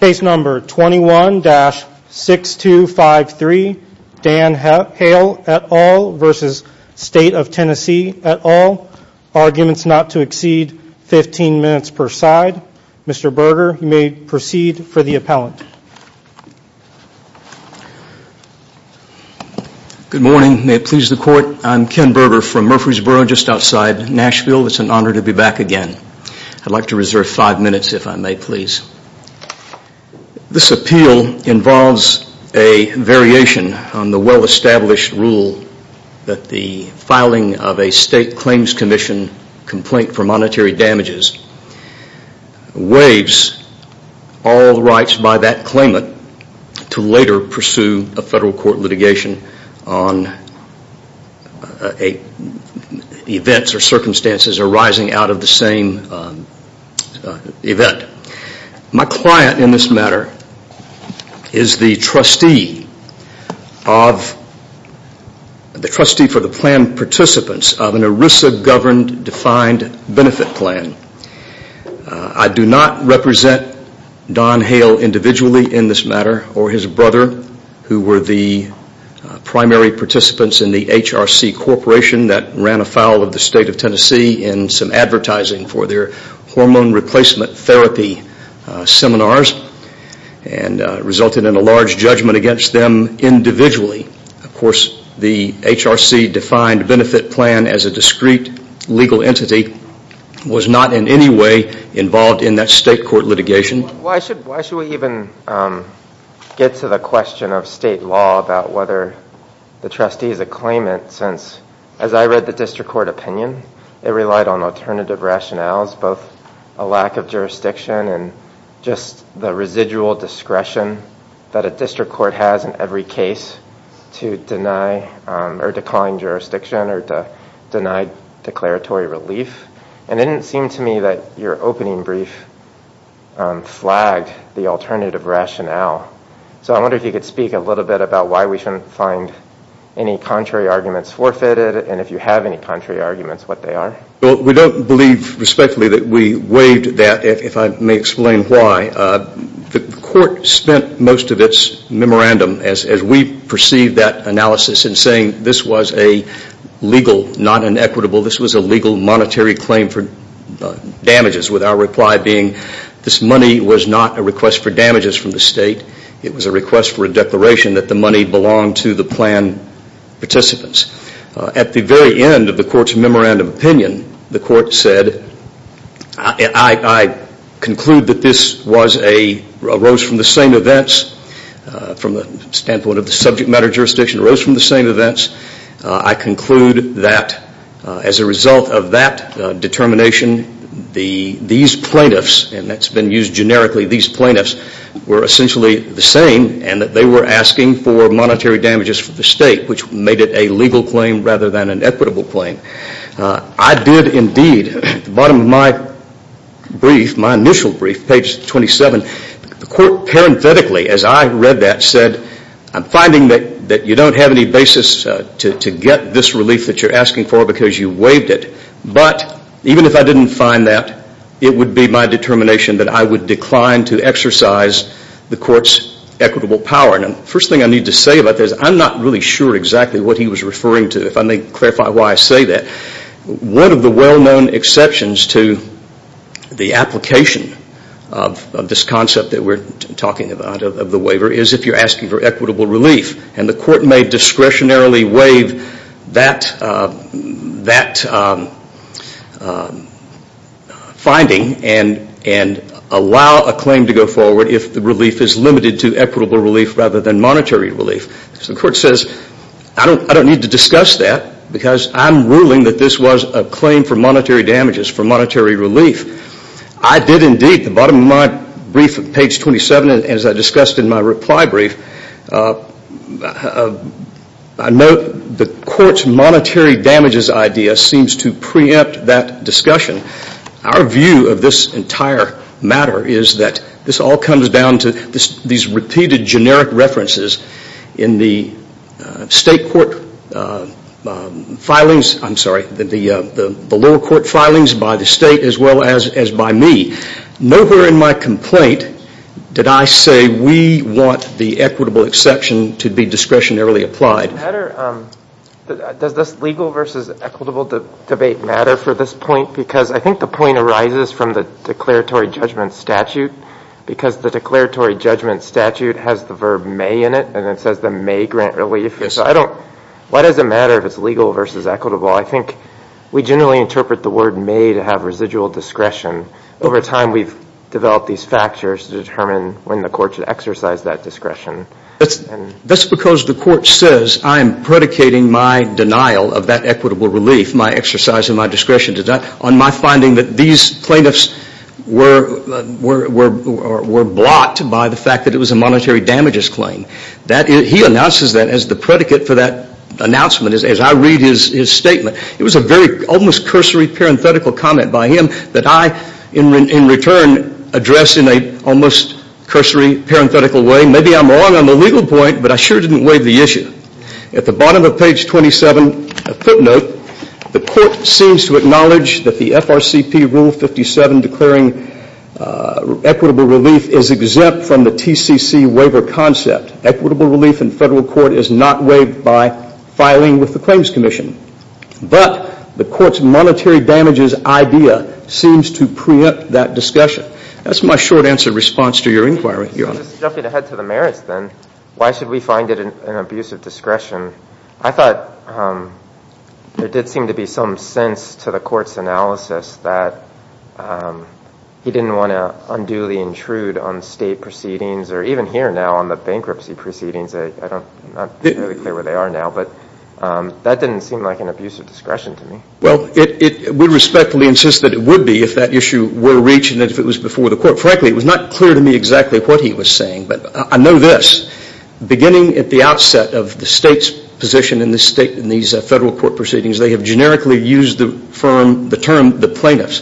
Case No. 21-6253, Dan Hale v. State of Tennessee et al. Arguments not to exceed 15 minutes per side. Mr. Berger, you may proceed for the appellant. Good morning. May it please the Court, I'm Ken Berger from Murfreesboro, just outside This appeal involves a variation on the well-established rule that the filing of a State Claims Commission complaint for monetary damages waives all rights by that claimant to later pursue a federal court litigation on events or circumstances arising out of the same event. My client in this matter is the trustee for the plan participants of an ERISA governed defined benefit plan. I do not represent Don Hale individually in this matter or his brother who were the primary participants in the HRC corporation that ran afoul of the State of Tennessee seminars and resulted in a large judgment against them individually. Of course, the HRC defined benefit plan as a discrete legal entity, was not in any way involved in that state court litigation. Why should we even get to the question of state law about whether the trustee is a claimant since, as I read the district court opinion, it relied on alternative rationales, both a lack of jurisdiction and just the residual discretion that a district court has in every case to deny or decline jurisdiction or to deny declaratory relief. And it didn't seem to me that your opening brief flagged the alternative rationale. So I wonder if you could speak a little bit about why we shouldn't find any contrary arguments what they are. Well, we don't believe respectfully that we waived that, if I may explain why. The court spent most of its memorandum, as we perceive that analysis, in saying this was a legal, not an equitable, this was a legal monetary claim for damages with our reply being this money was not a request for damages from the state. It was a request for a declaration that the money belonged to the plan participants. At the very end of the court's memorandum opinion, the court said, I conclude that this was a, arose from the same events, from the standpoint of the subject matter jurisdiction, arose from the same events. I conclude that as a result of that determination, these plaintiffs, and that's been used generically, these plaintiffs were essentially the same, and that they were asking for monetary damages for the state, which made it a legal claim rather than an equitable claim. I did indeed, at the bottom of my brief, my initial brief, page 27, the court parenthetically, as I read that, said I'm finding that you don't have any basis to get this relief that you're asking for because you waived it. But even if I didn't find that, it would be my determination that I would decline to exercise the court's equitable power. First thing I need to say about this, I'm not really sure exactly what he was referring to. If I may clarify why I say that. One of the well-known exceptions to the application of this concept that we're talking about, of the waiver, is if you're asking for equitable relief. And the court may discretionarily waive that finding and allow a claim to go forward if the relief is limited to equitable relief rather than monetary relief. So the court says, I don't need to discuss that because I'm ruling that this was a claim for monetary damages, for monetary relief. I did indeed, at the bottom of my brief, page 27, as I discussed in my reply brief, I note the court's monetary damages idea seems to preempt that discussion. Our view of this entire matter is that this all comes down to these repeated generic references in the state court filings, I'm sorry, the over in my complaint did I say we want the equitable exception to be discretionarily applied. Does this legal versus equitable debate matter for this point? Because I think the point arises from the declaratory judgment statute. Because the declaratory judgment statute has the verb may in it and it says the may grant relief. Why does it matter if it's legal versus equitable? I think we generally interpret the word may to have residual discretion. Over time we've developed these factors to determine when the court should exercise that discretion. That's because the court says I'm predicating my denial of that equitable relief, my exercise of my discretion, on my finding that these plaintiffs were blocked by the fact that it was a monetary damages claim. He announces that as the predicate for that announcement as I read his statement. It was a very almost cursory parenthetical comment by him that I in return address in a almost cursory parenthetical way. Maybe I'm wrong on the legal point but I sure didn't waive the issue. At the bottom of page 27, a footnote, the court seems to acknowledge that the FRCP rule 57 declaring equitable relief is exempt from the TCC waiver concept. Equitable relief in federal court is not waived by filing with the Claims Commission. But the court's monetary damages idea seems to preempt that discussion. That's my short answer response to your inquiry, Your Honor. Just jumping ahead to the merits then, why should we find it an abuse of discretion? I thought there did seem to be some sense to the court's analysis that he didn't want to unduly intrude on state proceedings or even here now on the bankruptcy proceedings. I'm not really clear where they are now but that didn't seem like an abuse of discretion to me. Well, we respectfully insist that it would be if that issue were reached and if it was before the court. Frankly, it was not clear to me exactly what he was saying. But I know this, beginning at the outset of the state's position in these federal court proceedings, they have generically used the term the plaintiffs.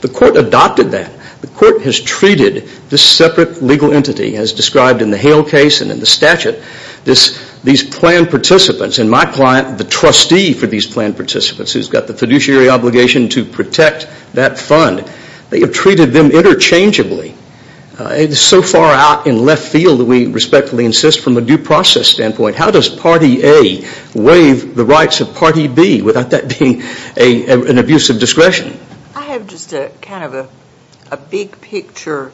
The court adopted that. The court has treated this separate legal entity as described in the Hale case and in the statute, these planned participants and my client, the trustee for these planned participants who's got the fiduciary obligation to protect that fund. They have treated them interchangeably. It's so far out in left field that we respectfully insist from a due process standpoint, how does Party A waive the rights of Party B without that being an abuse of discretion? I have just a kind of a big picture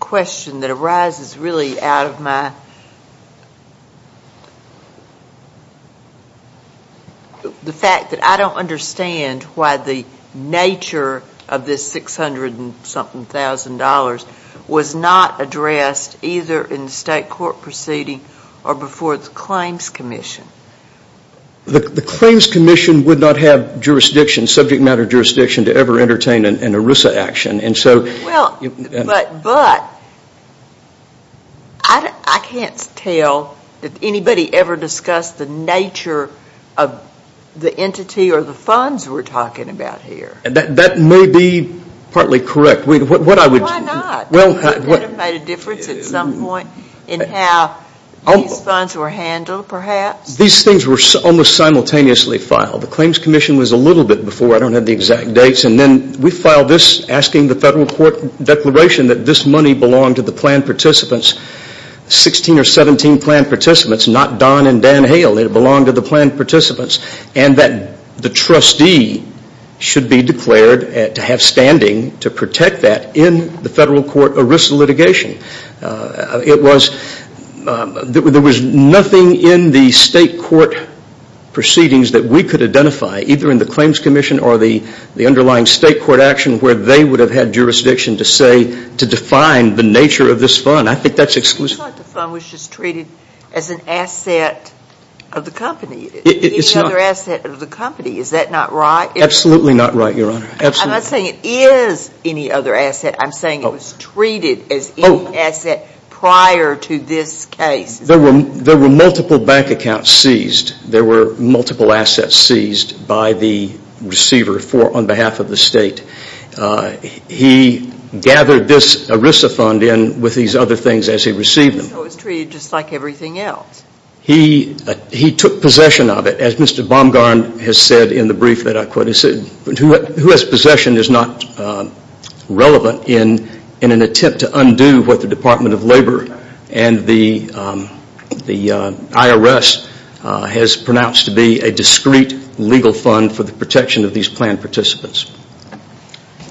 question that arises really out of my, the fact that I don't understand why the nature of this $600 and something thousand dollars was not addressed either in the state court proceeding or before the claims commission. The claims commission would not have jurisdiction, subject matter jurisdiction, to ever entertain an ERISA action and so... Well, but I can't tell that anybody ever discussed the nature of the entity or the funds we're talking about here. That may be partly correct. Why not? That would have made a difference at some point in how these funds were handled perhaps. These things were almost simultaneously filed. The claims commission was a little bit before. I don't have the exact dates and then we filed this asking the federal court declaration that this money belonged to the planned participants, 16 or 17 planned participants, not Don and Dan Hale. It belonged to the planned participants and that the trustee should be declared to have standing to protect that in the federal court ERISA litigation. It was, there was nothing in the state court proceedings that we could identify either in the claims commission or the underlying state court action where they would have had jurisdiction to say, to define the nature of this fund. I think that's exclusive. It's not the fund which is treated as an asset of the company. It's not. Any other asset of the company. Is that not right? Absolutely not right, Your Honor. Absolutely not. I'm not saying it is any other asset. I'm saying it was treated as any asset prior to this case. There were multiple bank accounts seized. There were multiple assets seized by the receiver for, on behalf of the state. He gathered this ERISA fund in with these other things as he received them. So it was treated just like everything else? He took possession of it. As Mr. Baumgarn has said in the brief that I quoted, who has said that possession is not relevant in an attempt to undo what the Department of Labor and the IRS has pronounced to be a discreet legal fund for the protection of these planned participants.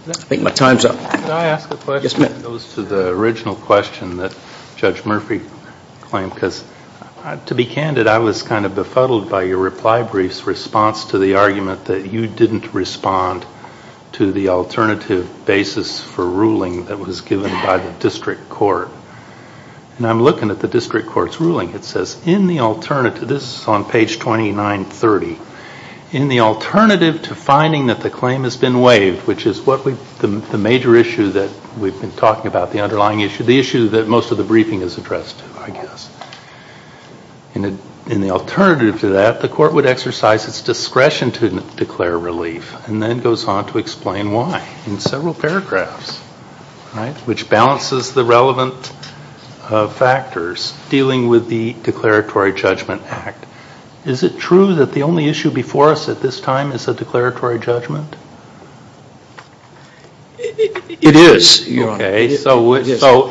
I think my time's up. Can I ask a question? Yes, ma'am. It goes to the original question that Judge Murphy claimed because, to be candid, I was kind of befuddled by your reply brief's response to the argument that you didn't respond to the alternative basis for ruling that was given by the district court. And I'm looking at the district court's ruling. It says, this is on page 2930, in the alternative to finding that the claim has been waived, which is the major issue that we've been talking about, the underlying issue, the issue that most of the briefing is addressed to, I guess. In the alternative to that, the court would exercise its discretion to declare relief, and then goes on to explain why in several paragraphs, which balances the relevant factors dealing with the Declaratory Judgment Act. Is it true that the only issue before us at this time is a declaratory judgment? It is, Your Honor. So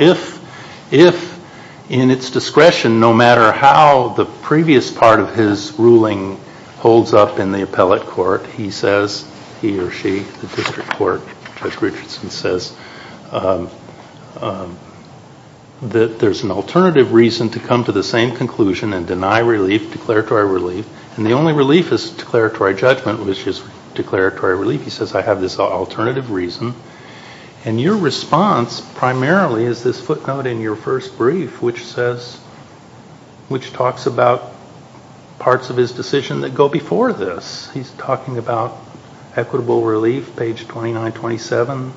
if, in its discretion, no matter how the previous part of his ruling holds up in the appellate court, he says, he or she, the district court, Judge Richardson says, that there's an alternative reason to come to the same conclusion and deny relief, declaratory relief, and the only relief is declaratory judgment, which is declaratory relief. He says, I have this alternative reason, and your response primarily is this footnote in your first brief, which says, which talks about parts of his decision that go before this. He's talking about equitable relief, page 2927,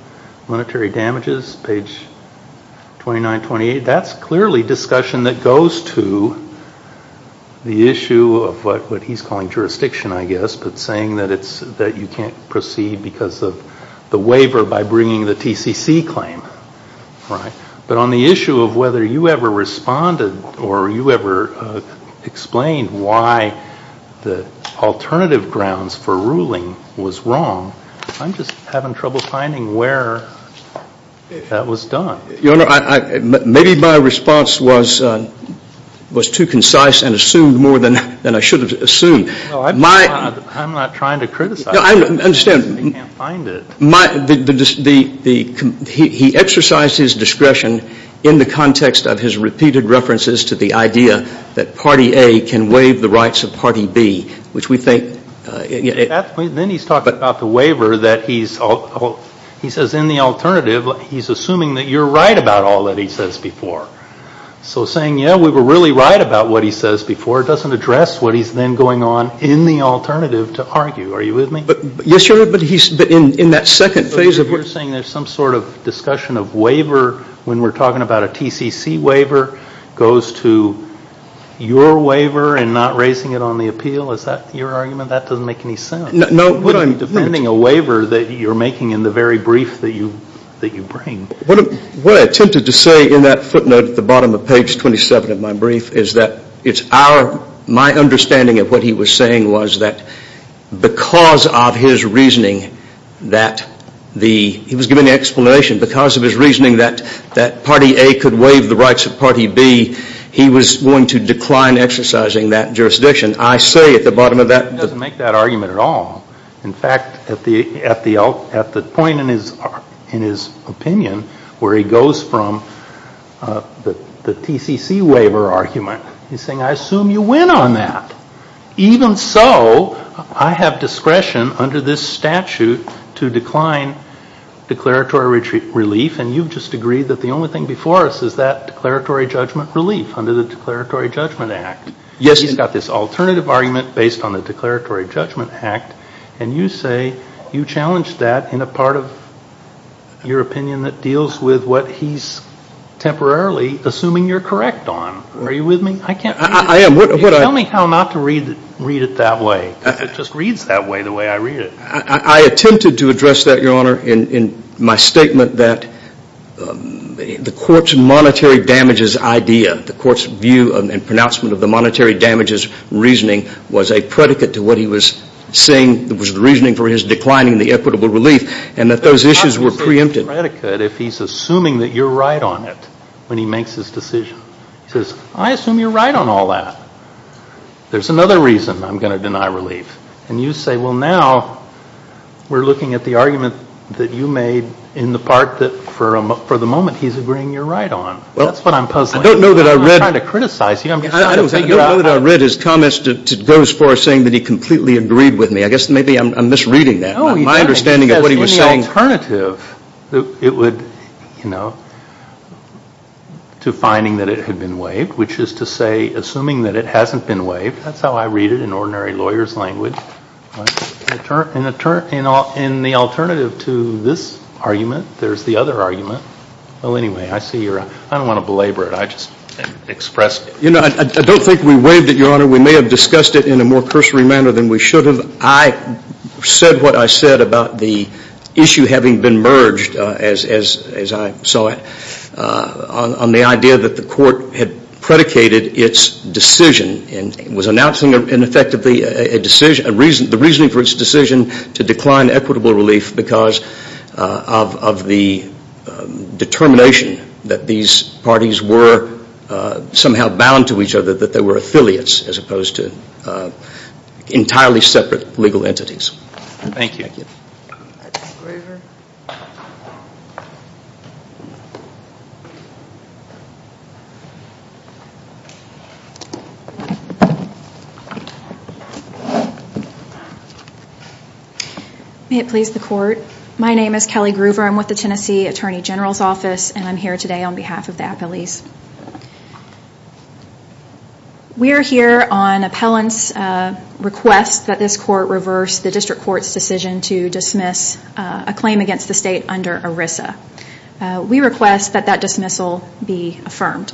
monetary damages, page 2928. That's clearly discussion that goes to the issue of what he's calling jurisdiction, I see, because of the waiver by bringing the TCC claim, right? But on the issue of whether you ever responded or you ever explained why the alternative grounds for ruling was wrong, I'm just having trouble finding where that was done. Your Honor, maybe my response was too concise and assumed more than I should have assumed. I understand. He exercised his discretion in the context of his repeated references to the idea that Party A can waive the rights of Party B, which we think... Then he's talking about the waiver that he's, he says, in the alternative, he's assuming that you're right about all that he says before. So saying, yeah, we were really right about what he says before doesn't address what he's then going on in the alternative to argue. Are you with me? Yes, Your Honor. But he's, in that second phase of... So you're saying there's some sort of discussion of waiver when we're talking about a TCC waiver goes to your waiver and not raising it on the appeal? Is that your argument? That doesn't make any sense. No. What I'm... Defending a waiver that you're making in the very brief that you bring. What I attempted to say in that footnote at the bottom of page 27 of my brief is that it's our, my understanding of what he was saying was that because of his reasoning that the, he was giving the explanation, because of his reasoning that Party A could waive the rights of Party B, he was going to decline exercising that jurisdiction. I say at the bottom of that... He doesn't make that argument at all. In fact, at the point in his opinion where he goes from the TCC waiver argument, he's saying, I assume you win on that. Even so, I have discretion under this statute to decline declaratory relief and you've just agreed that the only thing before us is that declaratory judgment relief under the Declaratory Judgment Act. Yes. He's got this alternative argument based on the Declaratory Judgment Act and you say you challenged that in a part of your opinion that deals with what he's temporarily assuming you're correct on. Are you with me? I am. Tell me how not to read it that way, because it just reads that way, the way I read it. I attempted to address that, Your Honor, in my statement that the Court's monetary damages idea, the Court's view and pronouncement of the monetary damages reasoning was a predicate to what he was saying was the reasoning for his declining the equitable relief and that those issues were preempted. It's not just a predicate if he's assuming that you're right on it when he makes his decision. He says, I assume you're right on all that. There's another reason I'm going to deny relief and you say, well, now we're looking at the argument that you made in the part that for the moment he's agreeing you're right on. That's what I'm puzzling. I don't know that I read. I'm not trying to criticize you. I'm just trying to figure out. I don't know that I read his comments to go as far as saying that he completely agreed with me. I guess maybe I'm misreading that. No, you don't. My understanding of what he was saying. The alternative it would, you know, to finding that it had been waived, which is to say assuming that it hasn't been waived, that's how I read it in ordinary lawyer's language, in the alternative to this argument, there's the other argument, well, anyway, I see you're right. I don't want to belabor it. I just expressed it. You know, I don't think we waived it, Your Honor. We may have discussed it in a more cursory manner than we should have. I said what I said about the issue having been merged, as I saw it, on the idea that the court had predicated its decision and was announcing, in effect, the reasoning for its decision to decline equitable relief because of the determination that these parties were somehow bound to each other, that they were affiliates as opposed to entirely separate legal entities. Thank you. Thank you. Kelly Groover. May it please the Court. My name is Kelly Groover. I'm with the Tennessee Attorney General's Office and I'm here today on behalf of the We are here on appellant's request that this court reverse the district court's decision to dismiss a claim against the state under ERISA. We request that that dismissal be affirmed.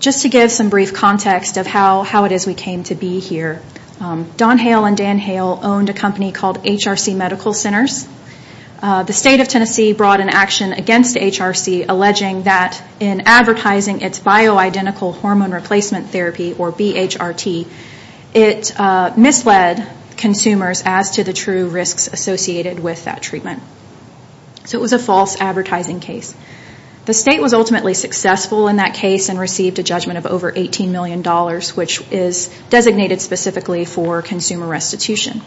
Just to give some brief context of how it is we came to be here, Don Hale and Dan Hale owned a company called HRC Medical Centers. The state of Tennessee brought an action against HRC alleging that in advertising its bioidentical hormone replacement therapy, or BHRT, it misled consumers as to the true risks associated with that treatment. So it was a false advertising case. The state was ultimately successful in that case and received a judgment of over $18 million which is designated specifically for consumer restitution.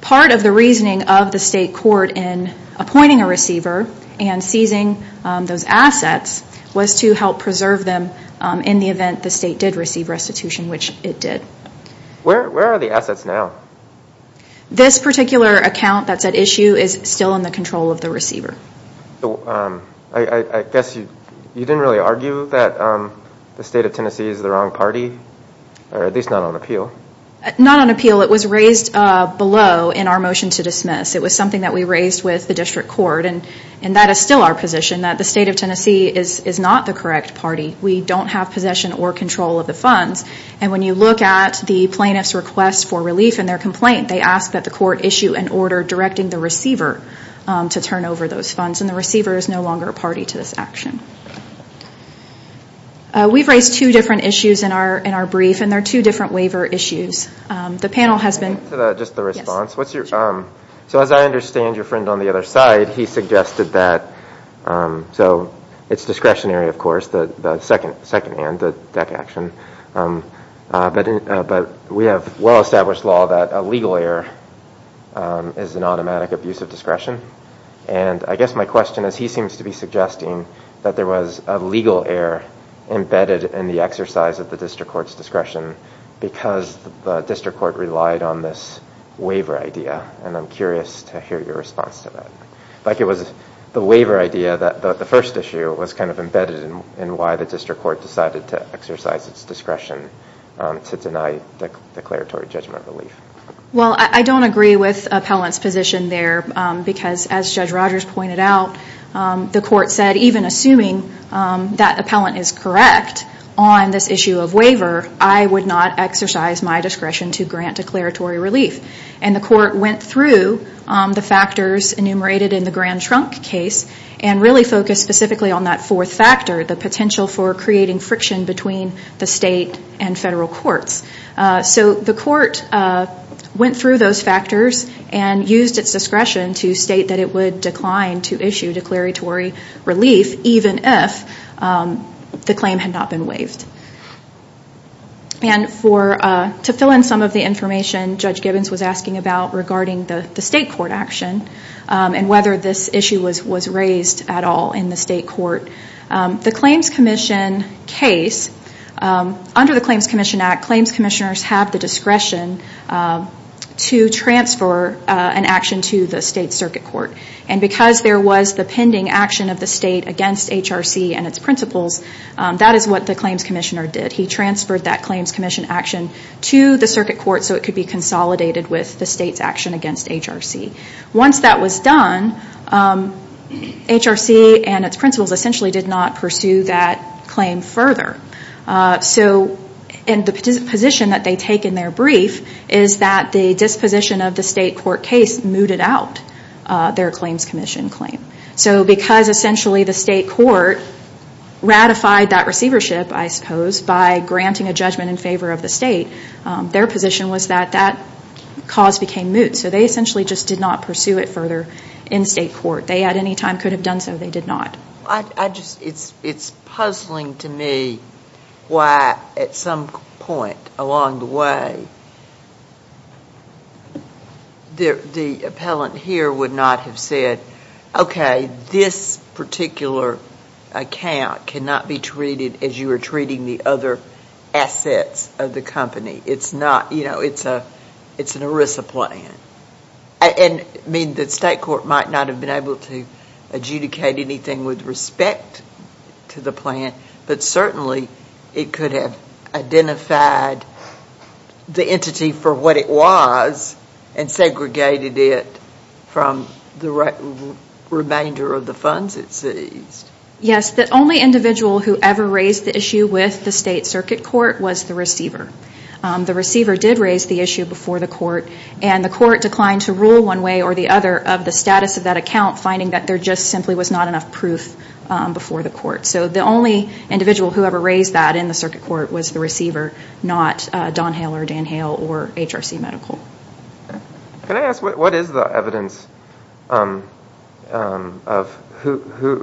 Part of the reasoning of the state court in appointing a receiver and seizing those assets was to help preserve them in the event the state did receive restitution, which it did. Where are the assets now? This particular account that's at issue is still in the control of the receiver. I guess you didn't really argue that the state of Tennessee is the wrong party, or at least not on appeal? Not on appeal. It was raised below in our motion to dismiss. It was something that we raised with the district court and that is still our position, that the state of Tennessee is not the correct party. We don't have possession or control of the funds and when you look at the plaintiff's request for relief in their complaint, they ask that the court issue an order directing the receiver to turn over those funds and the receiver is no longer a party to this action. We've raised two different issues in our brief and they're two different waiver issues. The panel has been... Just the response. So as I understand, your friend on the other side, he suggested that, so it's discretionary of course, the second hand, the DEC action, but we have well established law that a legal error is an automatic abuse of discretion and I guess my question is, he seems to be suggesting that there was a legal error embedded in the exercise of the district court's discretion because the district court relied on this waiver idea and I'm curious to hear your response to that. Like it was the waiver idea that the first issue was kind of embedded in why the district court decided to exercise its discretion to deny declaratory judgment relief. Well, I don't agree with Appellant's position there because as Judge Rogers pointed out, the court said even assuming that Appellant is correct on this issue of waiver, I would not exercise my discretion to grant declaratory relief and the court went through the factors enumerated in the Grand Trunk case and really focused specifically on that fourth factor, the potential for creating friction between the state and federal courts. So the court went through those factors and used its discretion to state that it would decline to issue declaratory relief even if the claim had not been waived. And to fill in some of the information Judge Gibbons was asking about regarding the state court action and whether this issue was raised at all in the state court, the Claims Commission case, under the Claims Commission Act, claims commissioners have the discretion to transfer an action to the state circuit court and because there was the pending action of the state against HRC and its principals, that is what the claims commissioner did. He transferred that claims commission action to the circuit court so it could be consolidated with the state's action against HRC. Once that was done, HRC and its principals essentially did not pursue that claim further. And the position that they take in their brief is that the disposition of the state court case mooted out their claims commission claim. So because essentially the state court ratified that receivership, I suppose, by granting a judgment in favor of the state, their position was that that cause became moot. So they essentially just did not pursue it further in state court. They at any time could have done so. They did not. It is puzzling to me why at some point along the way the appellant here would not have said, okay, this particular account cannot be treated as you are treating the other assets of the company. It is an ERISA plan. The state court might not have been able to adjudicate anything with respect to the plan, but certainly it could have identified the entity for what it was and segregated it from the remainder of the funds it seized. Yes. The only individual who ever raised the issue with the state circuit court was the receiver. The receiver did raise the issue before the court and the court declined to rule one way or the other of the status of that account, finding that there just simply was not enough proof before the court. So the only individual who ever raised that in the circuit court was the receiver, not Don Hale or Dan Hale or HRC Medical. Can I ask, what is the evidence? Are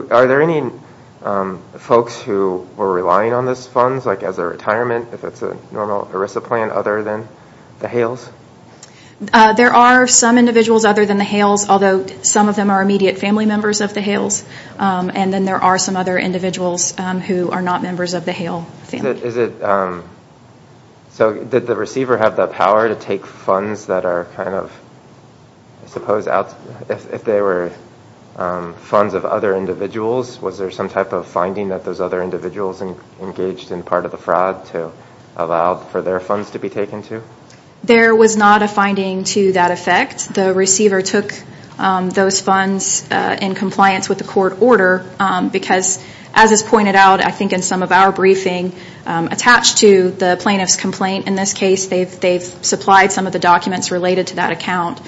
there any folks who were relying on those funds like as a retirement if it is a normal ERISA plan other than the Hales? There are some individuals other than the Hales, although some of them are immediate family members of the Hales, and then there are some other individuals who are not members of the Hale family. So did the receiver have the power to take funds that are kind of, if they were funds of other individuals, was there some type of finding that those other individuals engaged in part of the fraud to allow for their funds to be taken too? There was not a finding to that effect. The receiver took those funds in compliance with the court order because, as is pointed out, I think in some of our briefing attached to the plaintiff's complaint in this case, they've supplied some of the documents related to that account.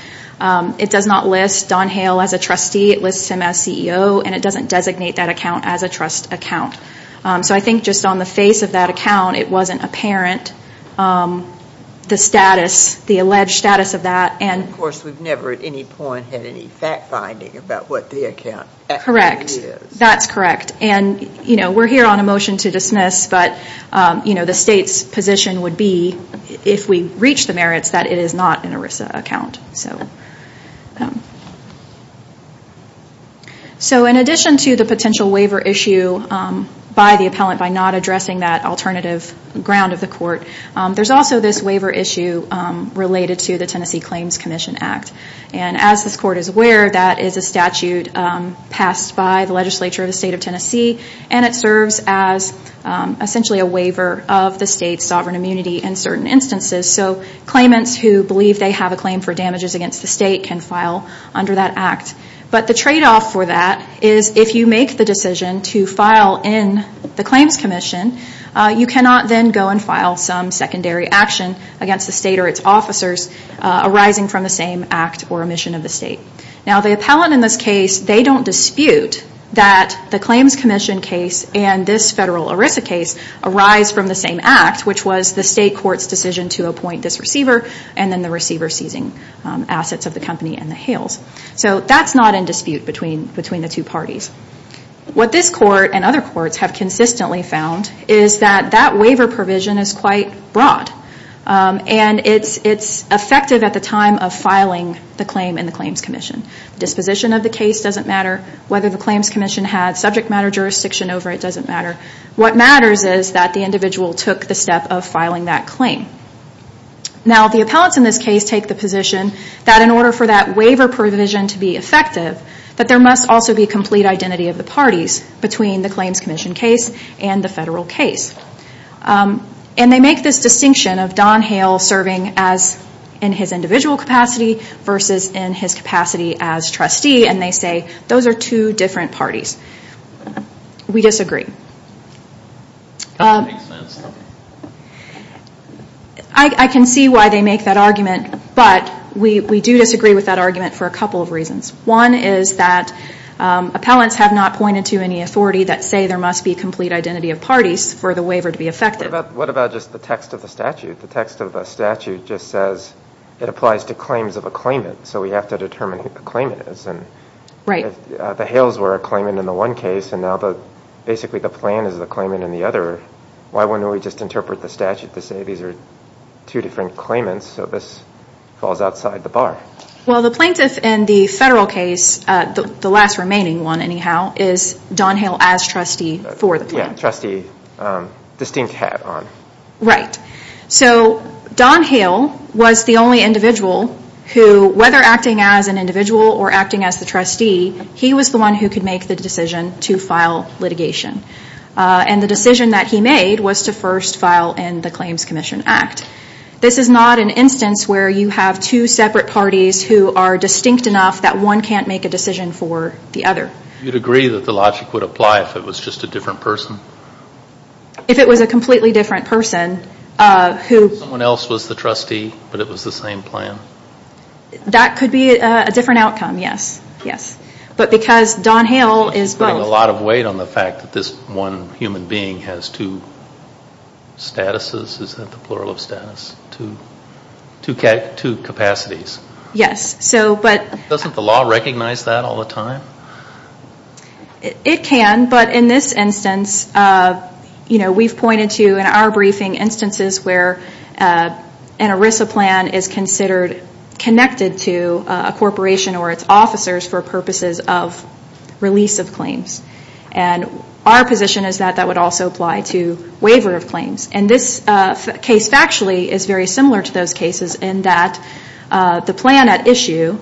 It does not list Don Hale as a trustee. It lists him as CEO, and it doesn't designate that account as a trust account. So I think just on the face of that account, it wasn't apparent the status, the alleged status of that. Of course, we've never at any point had any fact-finding about what the account actually is. That's correct, and we're here on a motion to dismiss, but the state's position would be, if we reach the merits, that it is not an ERISA account. So, in addition to the potential waiver issue by the appellant by not addressing that alternative ground of the court, there's also this waiver issue related to the Tennessee Claims Commission Act. And as this court is aware, that is a statute passed by the legislature of the state of Tennessee, and it serves as essentially a waiver of the state's sovereign immunity in certain instances. So claimants who believe they have a claim for damages against the state can file under that act. But the tradeoff for that is, if you make the decision to file in the Claims Commission, you cannot then go and file some secondary action against the state or its officers arising from the same act or omission of the state. Now the appellant in this case, they don't dispute that the Claims Commission case and this federal ERISA case arise from the same act, which was the state court's decision to appoint this receiver and then the receiver seizing assets of the company and the hails. So that's not in dispute between the two parties. What this court and other courts have consistently found is that that waiver provision is quite broad. And it's effective at the time of filing the claim in the Claims Commission. Disposition of the case doesn't matter. Whether the Claims Commission had subject matter jurisdiction over it doesn't matter. What matters is that the individual took the step of filing that claim. Now the appellants in this case take the position that in order for that waiver provision to be effective, that there must also be complete identity of the parties between the Claims Commission case and the federal case. And they make this distinction of Don Hale serving in his individual capacity versus in his capacity as trustee and they say those are two different parties. We disagree. I can see why they make that argument, but we do disagree with that argument for a couple of reasons. One is that appellants have not pointed to any authority that say there must be complete identity of parties for the waiver to be effective. What about just the text of the statute? The text of the statute just says it applies to Don Hale, so we have to determine who the claimant is. The Hales were a claimant in the one case and now basically the plan is the claimant in the other. Why wouldn't we just interpret the statute to say these are two different claimants so this falls outside the bar? Well the plaintiff in the federal case, the last remaining one anyhow, is Don Hale as trustee for the plan. Yeah, trustee distinct hat on. Right. So Don Hale was the only individual who, whether acting as an individual or acting as the trustee, he was the one who could make the decision to file litigation. And the decision that he made was to first file in the Claims Commission Act. This is not an instance where you have two separate parties who are distinct enough that one can't make a decision for the other. Do you agree that the logic would apply if it was just a different person? If it was a completely different person who... Someone else was the trustee but it was the same plan? That could be a different outcome, yes. But because Don Hale is both... Which is putting a lot of weight on the fact that this one human being has two statuses, is that the plural of status? Two capacities. Yes, so but... Doesn't the law recognize that all the time? It can, but in this instance, we've pointed to in our briefing instances where an ERISA plan is considered connected to a corporation or its officers for purposes of release of claims. And our position is that that would also apply to waiver of claims. And this case factually is very similar to those cases in that the plan at issue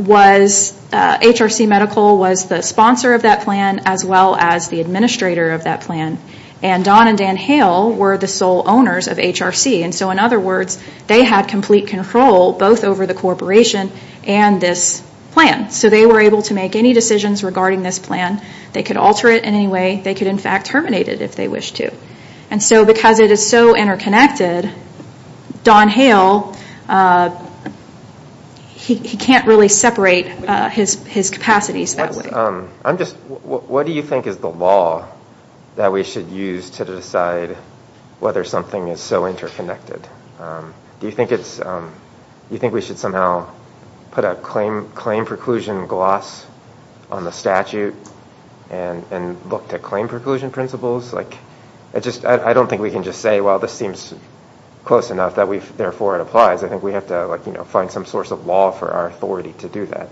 was HRC Medical was the sponsor of that plan as well as the administrator of that plan. And Don and Dan Hale were the sole owners of HRC. And so in other words, they had complete control both over the corporation and this plan. So they were able to make any decisions regarding this plan. They could alter it in any way. They could in fact terminate it if they wished to. And so because it is so interconnected, Don Hale, he can't really separate his own plans and his capacities that way. What do you think is the law that we should use to decide whether something is so interconnected? Do you think we should somehow put a claim preclusion gloss on the statute and look to claim preclusion principles? I don't think we can just say, well, this seems close enough that therefore it applies. I think we have to find some source of law for our authority to do that.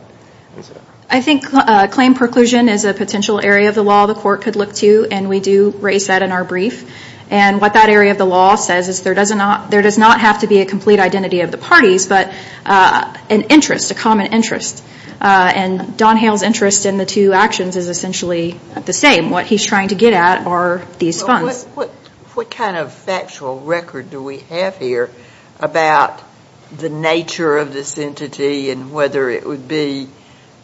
I think claim preclusion is a potential area of the law the court could look to. And we do raise that in our brief. And what that area of the law says is there does not have to be a complete identity of the parties, but an interest, a common interest. And Don Hale's interest in the two actions is essentially the same. What he's trying to get at are these funds. What kind of factual record do we have here about the nature of this entity and whether it would be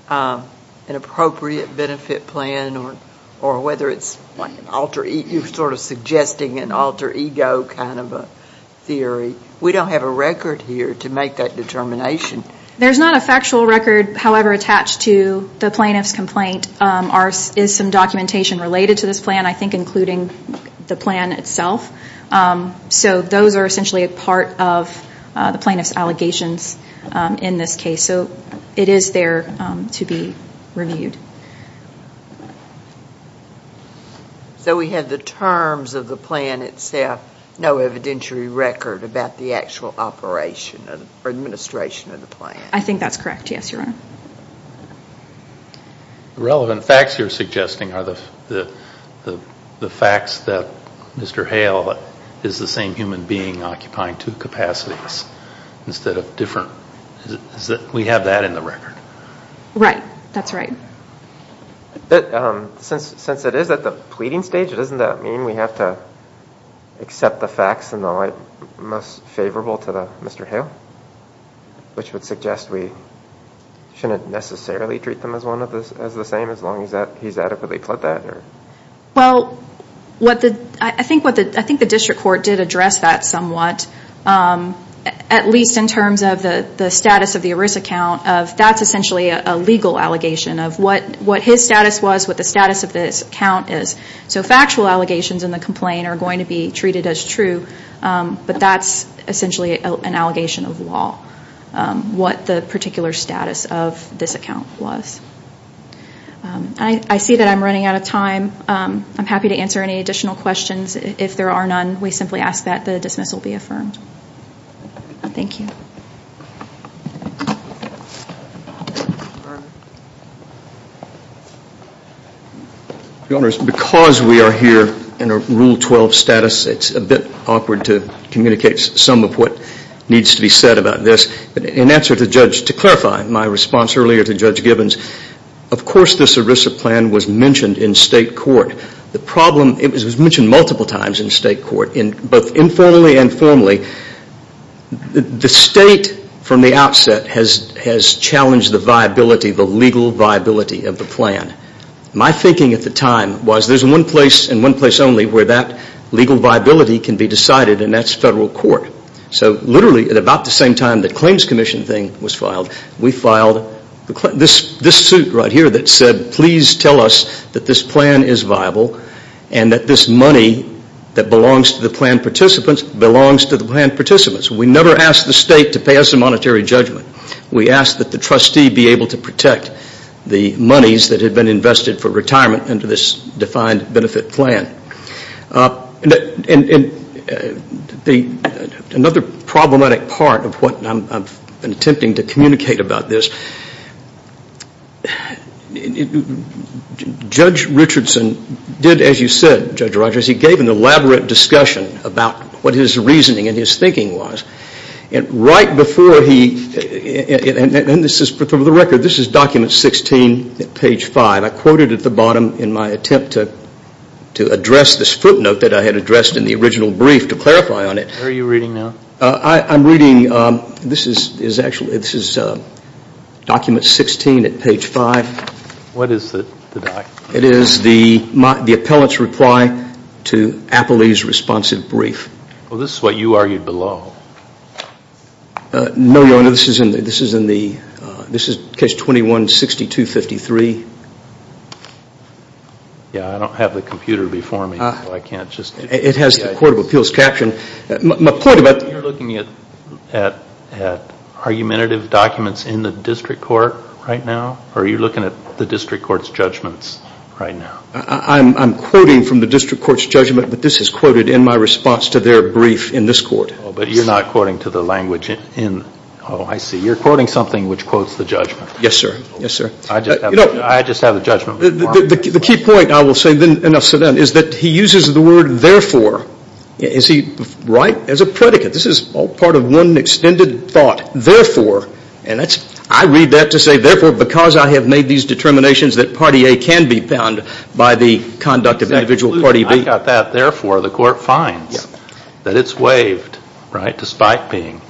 an appropriate benefit plan or whether it's sort of suggesting an alter ego kind of a theory? We don't have a record here to make that determination. There's not a factual record, however, attached to the plaintiff's complaint. There is some documentation related to this plan, I think, including the plan itself. So those are essentially a part of the plaintiff's allegations in this case. So it is there to be reviewed. So we have the terms of the plan itself, no evidentiary record about the actual operation or administration of the plan? I think that's correct, yes, Your Honor. The relevant facts you're suggesting are the facts that Mr. Hale is the same human being occupying two capacities instead of different. We have that in the record. Right, that's right. Since it is at the pleading stage, doesn't that mean we have to accept the facts in the case of Mr. Hale, which would suggest we shouldn't necessarily treat them as the same as long as he's adequately pled that? I think the district court did address that somewhat, at least in terms of the status of the ERISA count. That's essentially a legal allegation of what his status was, what the status of this count is. So factual allegations in the complaint are going to be treated as true, but that's essentially an allegation of law, what the particular status of this account was. I see that I'm running out of time. I'm happy to answer any additional questions. If there are none, we simply ask that the dismissal be affirmed. Thank you. Your Honor, because we are here in a Rule 12 status, it's a bit awkward to communicate some of what needs to be said about this. In answer to Judge, to clarify my response earlier to Judge Gibbons, of course this ERISA plan was mentioned in state court. The problem, it was mentioned multiple times in state court, both informally and formally. The state from the outset has challenged the viability, the legal viability of the plan. My thinking at the time was there's one place and one place only where that legal viability can be decided and that's federal court. So literally at about the same time the claims commission thing was filed, we filed this suit right here that said please tell us that this plan is viable and that this money that belongs to the plan participants belongs to the plan participants. We never asked the state to pay us a monetary judgment. We asked that the trustee be able to protect the monies that had been invested for retirement under this defined benefit plan. Another problematic part of what I'm attempting to communicate about this, Judge Richardson did as you said, Judge Rogers, he gave an elaborate discussion about what his reasoning and his thinking was. Right before he, and this is for the record, this is document 16, page 5, I quoted at the time in my attempt to address this footnote that I had addressed in the original brief to clarify on it. Where are you reading now? I'm reading, this is actually, this is document 16 at page 5. What is the document? It is the appellant's reply to Appley's responsive brief. Well this is what you argued below. No, Your Honor, this is in the, this is in the, this is case 21-6253. Yeah, I don't have the computer before me, so I can't just. It has the Court of Appeals caption. You're looking at argumentative documents in the district court right now, or are you looking at the district court's judgments right now? I'm quoting from the district court's judgment, but this is quoted in my response to their brief in this court. Oh, but you're not quoting to the language in, oh, I see. You're quoting something which quotes the judgment. Yes, sir. Yes, sir. I just have the judgment. The key point, I will say then, is that he uses the word therefore, is he right? As a predicate. This is all part of one extended thought. Therefore, and that's, I read that to say therefore because I have made these determinations that party A can be bound by the conduct of individual party B. When I think about that, therefore, the court finds that it's waived, right, despite being.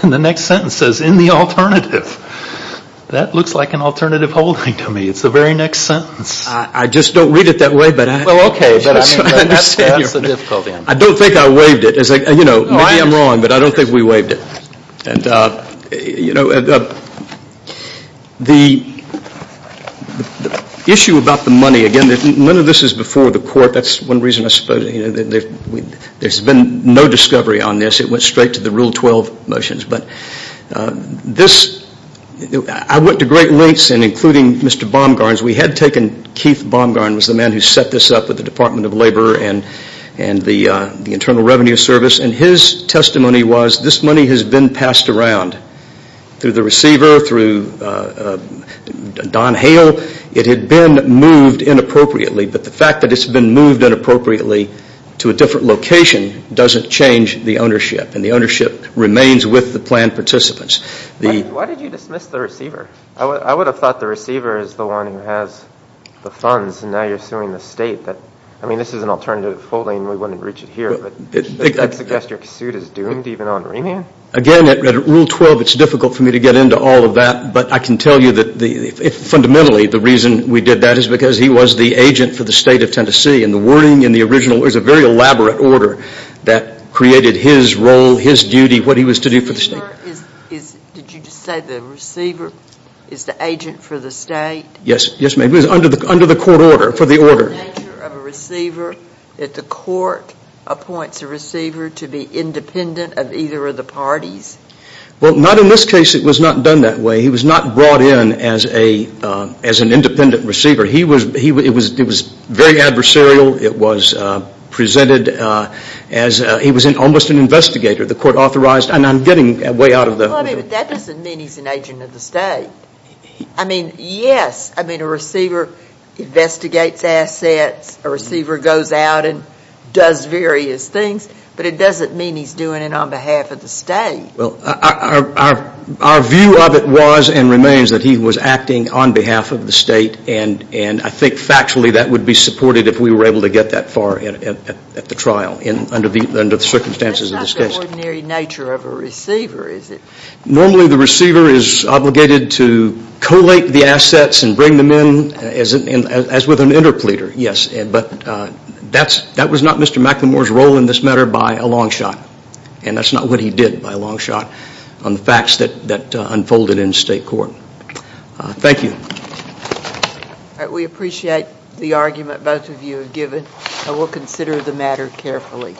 Then the next sentence says, in the alternative. That looks like an alternative holding to me. It's the very next sentence. I just don't read it that way, but I understand. Well, okay, but that's the difficulty. I don't think I waived it. Maybe I'm wrong, but I don't think we waived it. You know, the issue about the money, again, none of this is before the court. That's one reason I suppose there's been no discovery on this. It went straight to the Rule 12 motions. But this, I went to great lengths in including Mr. Baumgarn's. We had taken, Keith Baumgarn was the man who set this up with the Department of Labor and the Internal Revenue Service, and his testimony was, this money has been passed around through the receiver, through Don Hale. It had been moved inappropriately, but the fact that it's been moved inappropriately to a different location doesn't change the ownership, and the ownership remains with the planned participants. Why did you dismiss the receiver? I would have thought the receiver is the one who has the funds, and now you're suing the state. I mean, this is an alternative holding. Suggest your suit is doomed, even on remand? Again, at Rule 12, it's difficult for me to get into all of that, but I can tell you that fundamentally the reason we did that is because he was the agent for the state of Tennessee, and the wording in the original was a very elaborate order that created his role, his duty, what he was to do for the state. Did you just say the receiver is the agent for the state? Yes, ma'am. It was under the court order, for the order. What is the nature of a receiver if the court appoints a receiver to be independent of either of the parties? Well, not in this case. It was not done that way. He was not brought in as an independent receiver. It was very adversarial. It was presented as he was almost an investigator. The court authorized, and I'm getting way out of the... Well, I mean, that doesn't mean he's an agent of the state. I mean, yes, I mean, a receiver investigates assets, a receiver goes out and does various things, but it doesn't mean he's doing it on behalf of the state. Well, our view of it was and remains that he was acting on behalf of the state, and I think factually that would be supported if we were able to get that far at the trial under the circumstances of this case. That's not the ordinary nature of a receiver, is it? Normally, the receiver is obligated to collate the assets and bring them in as with an interpleader, yes, but that was not Mr. McLemore's role in this matter by a long shot, and that's not what he did by a long shot on the facts that unfolded in state court. Thank you. All right, we appreciate the argument both of you have given, and we'll consider the matter carefully.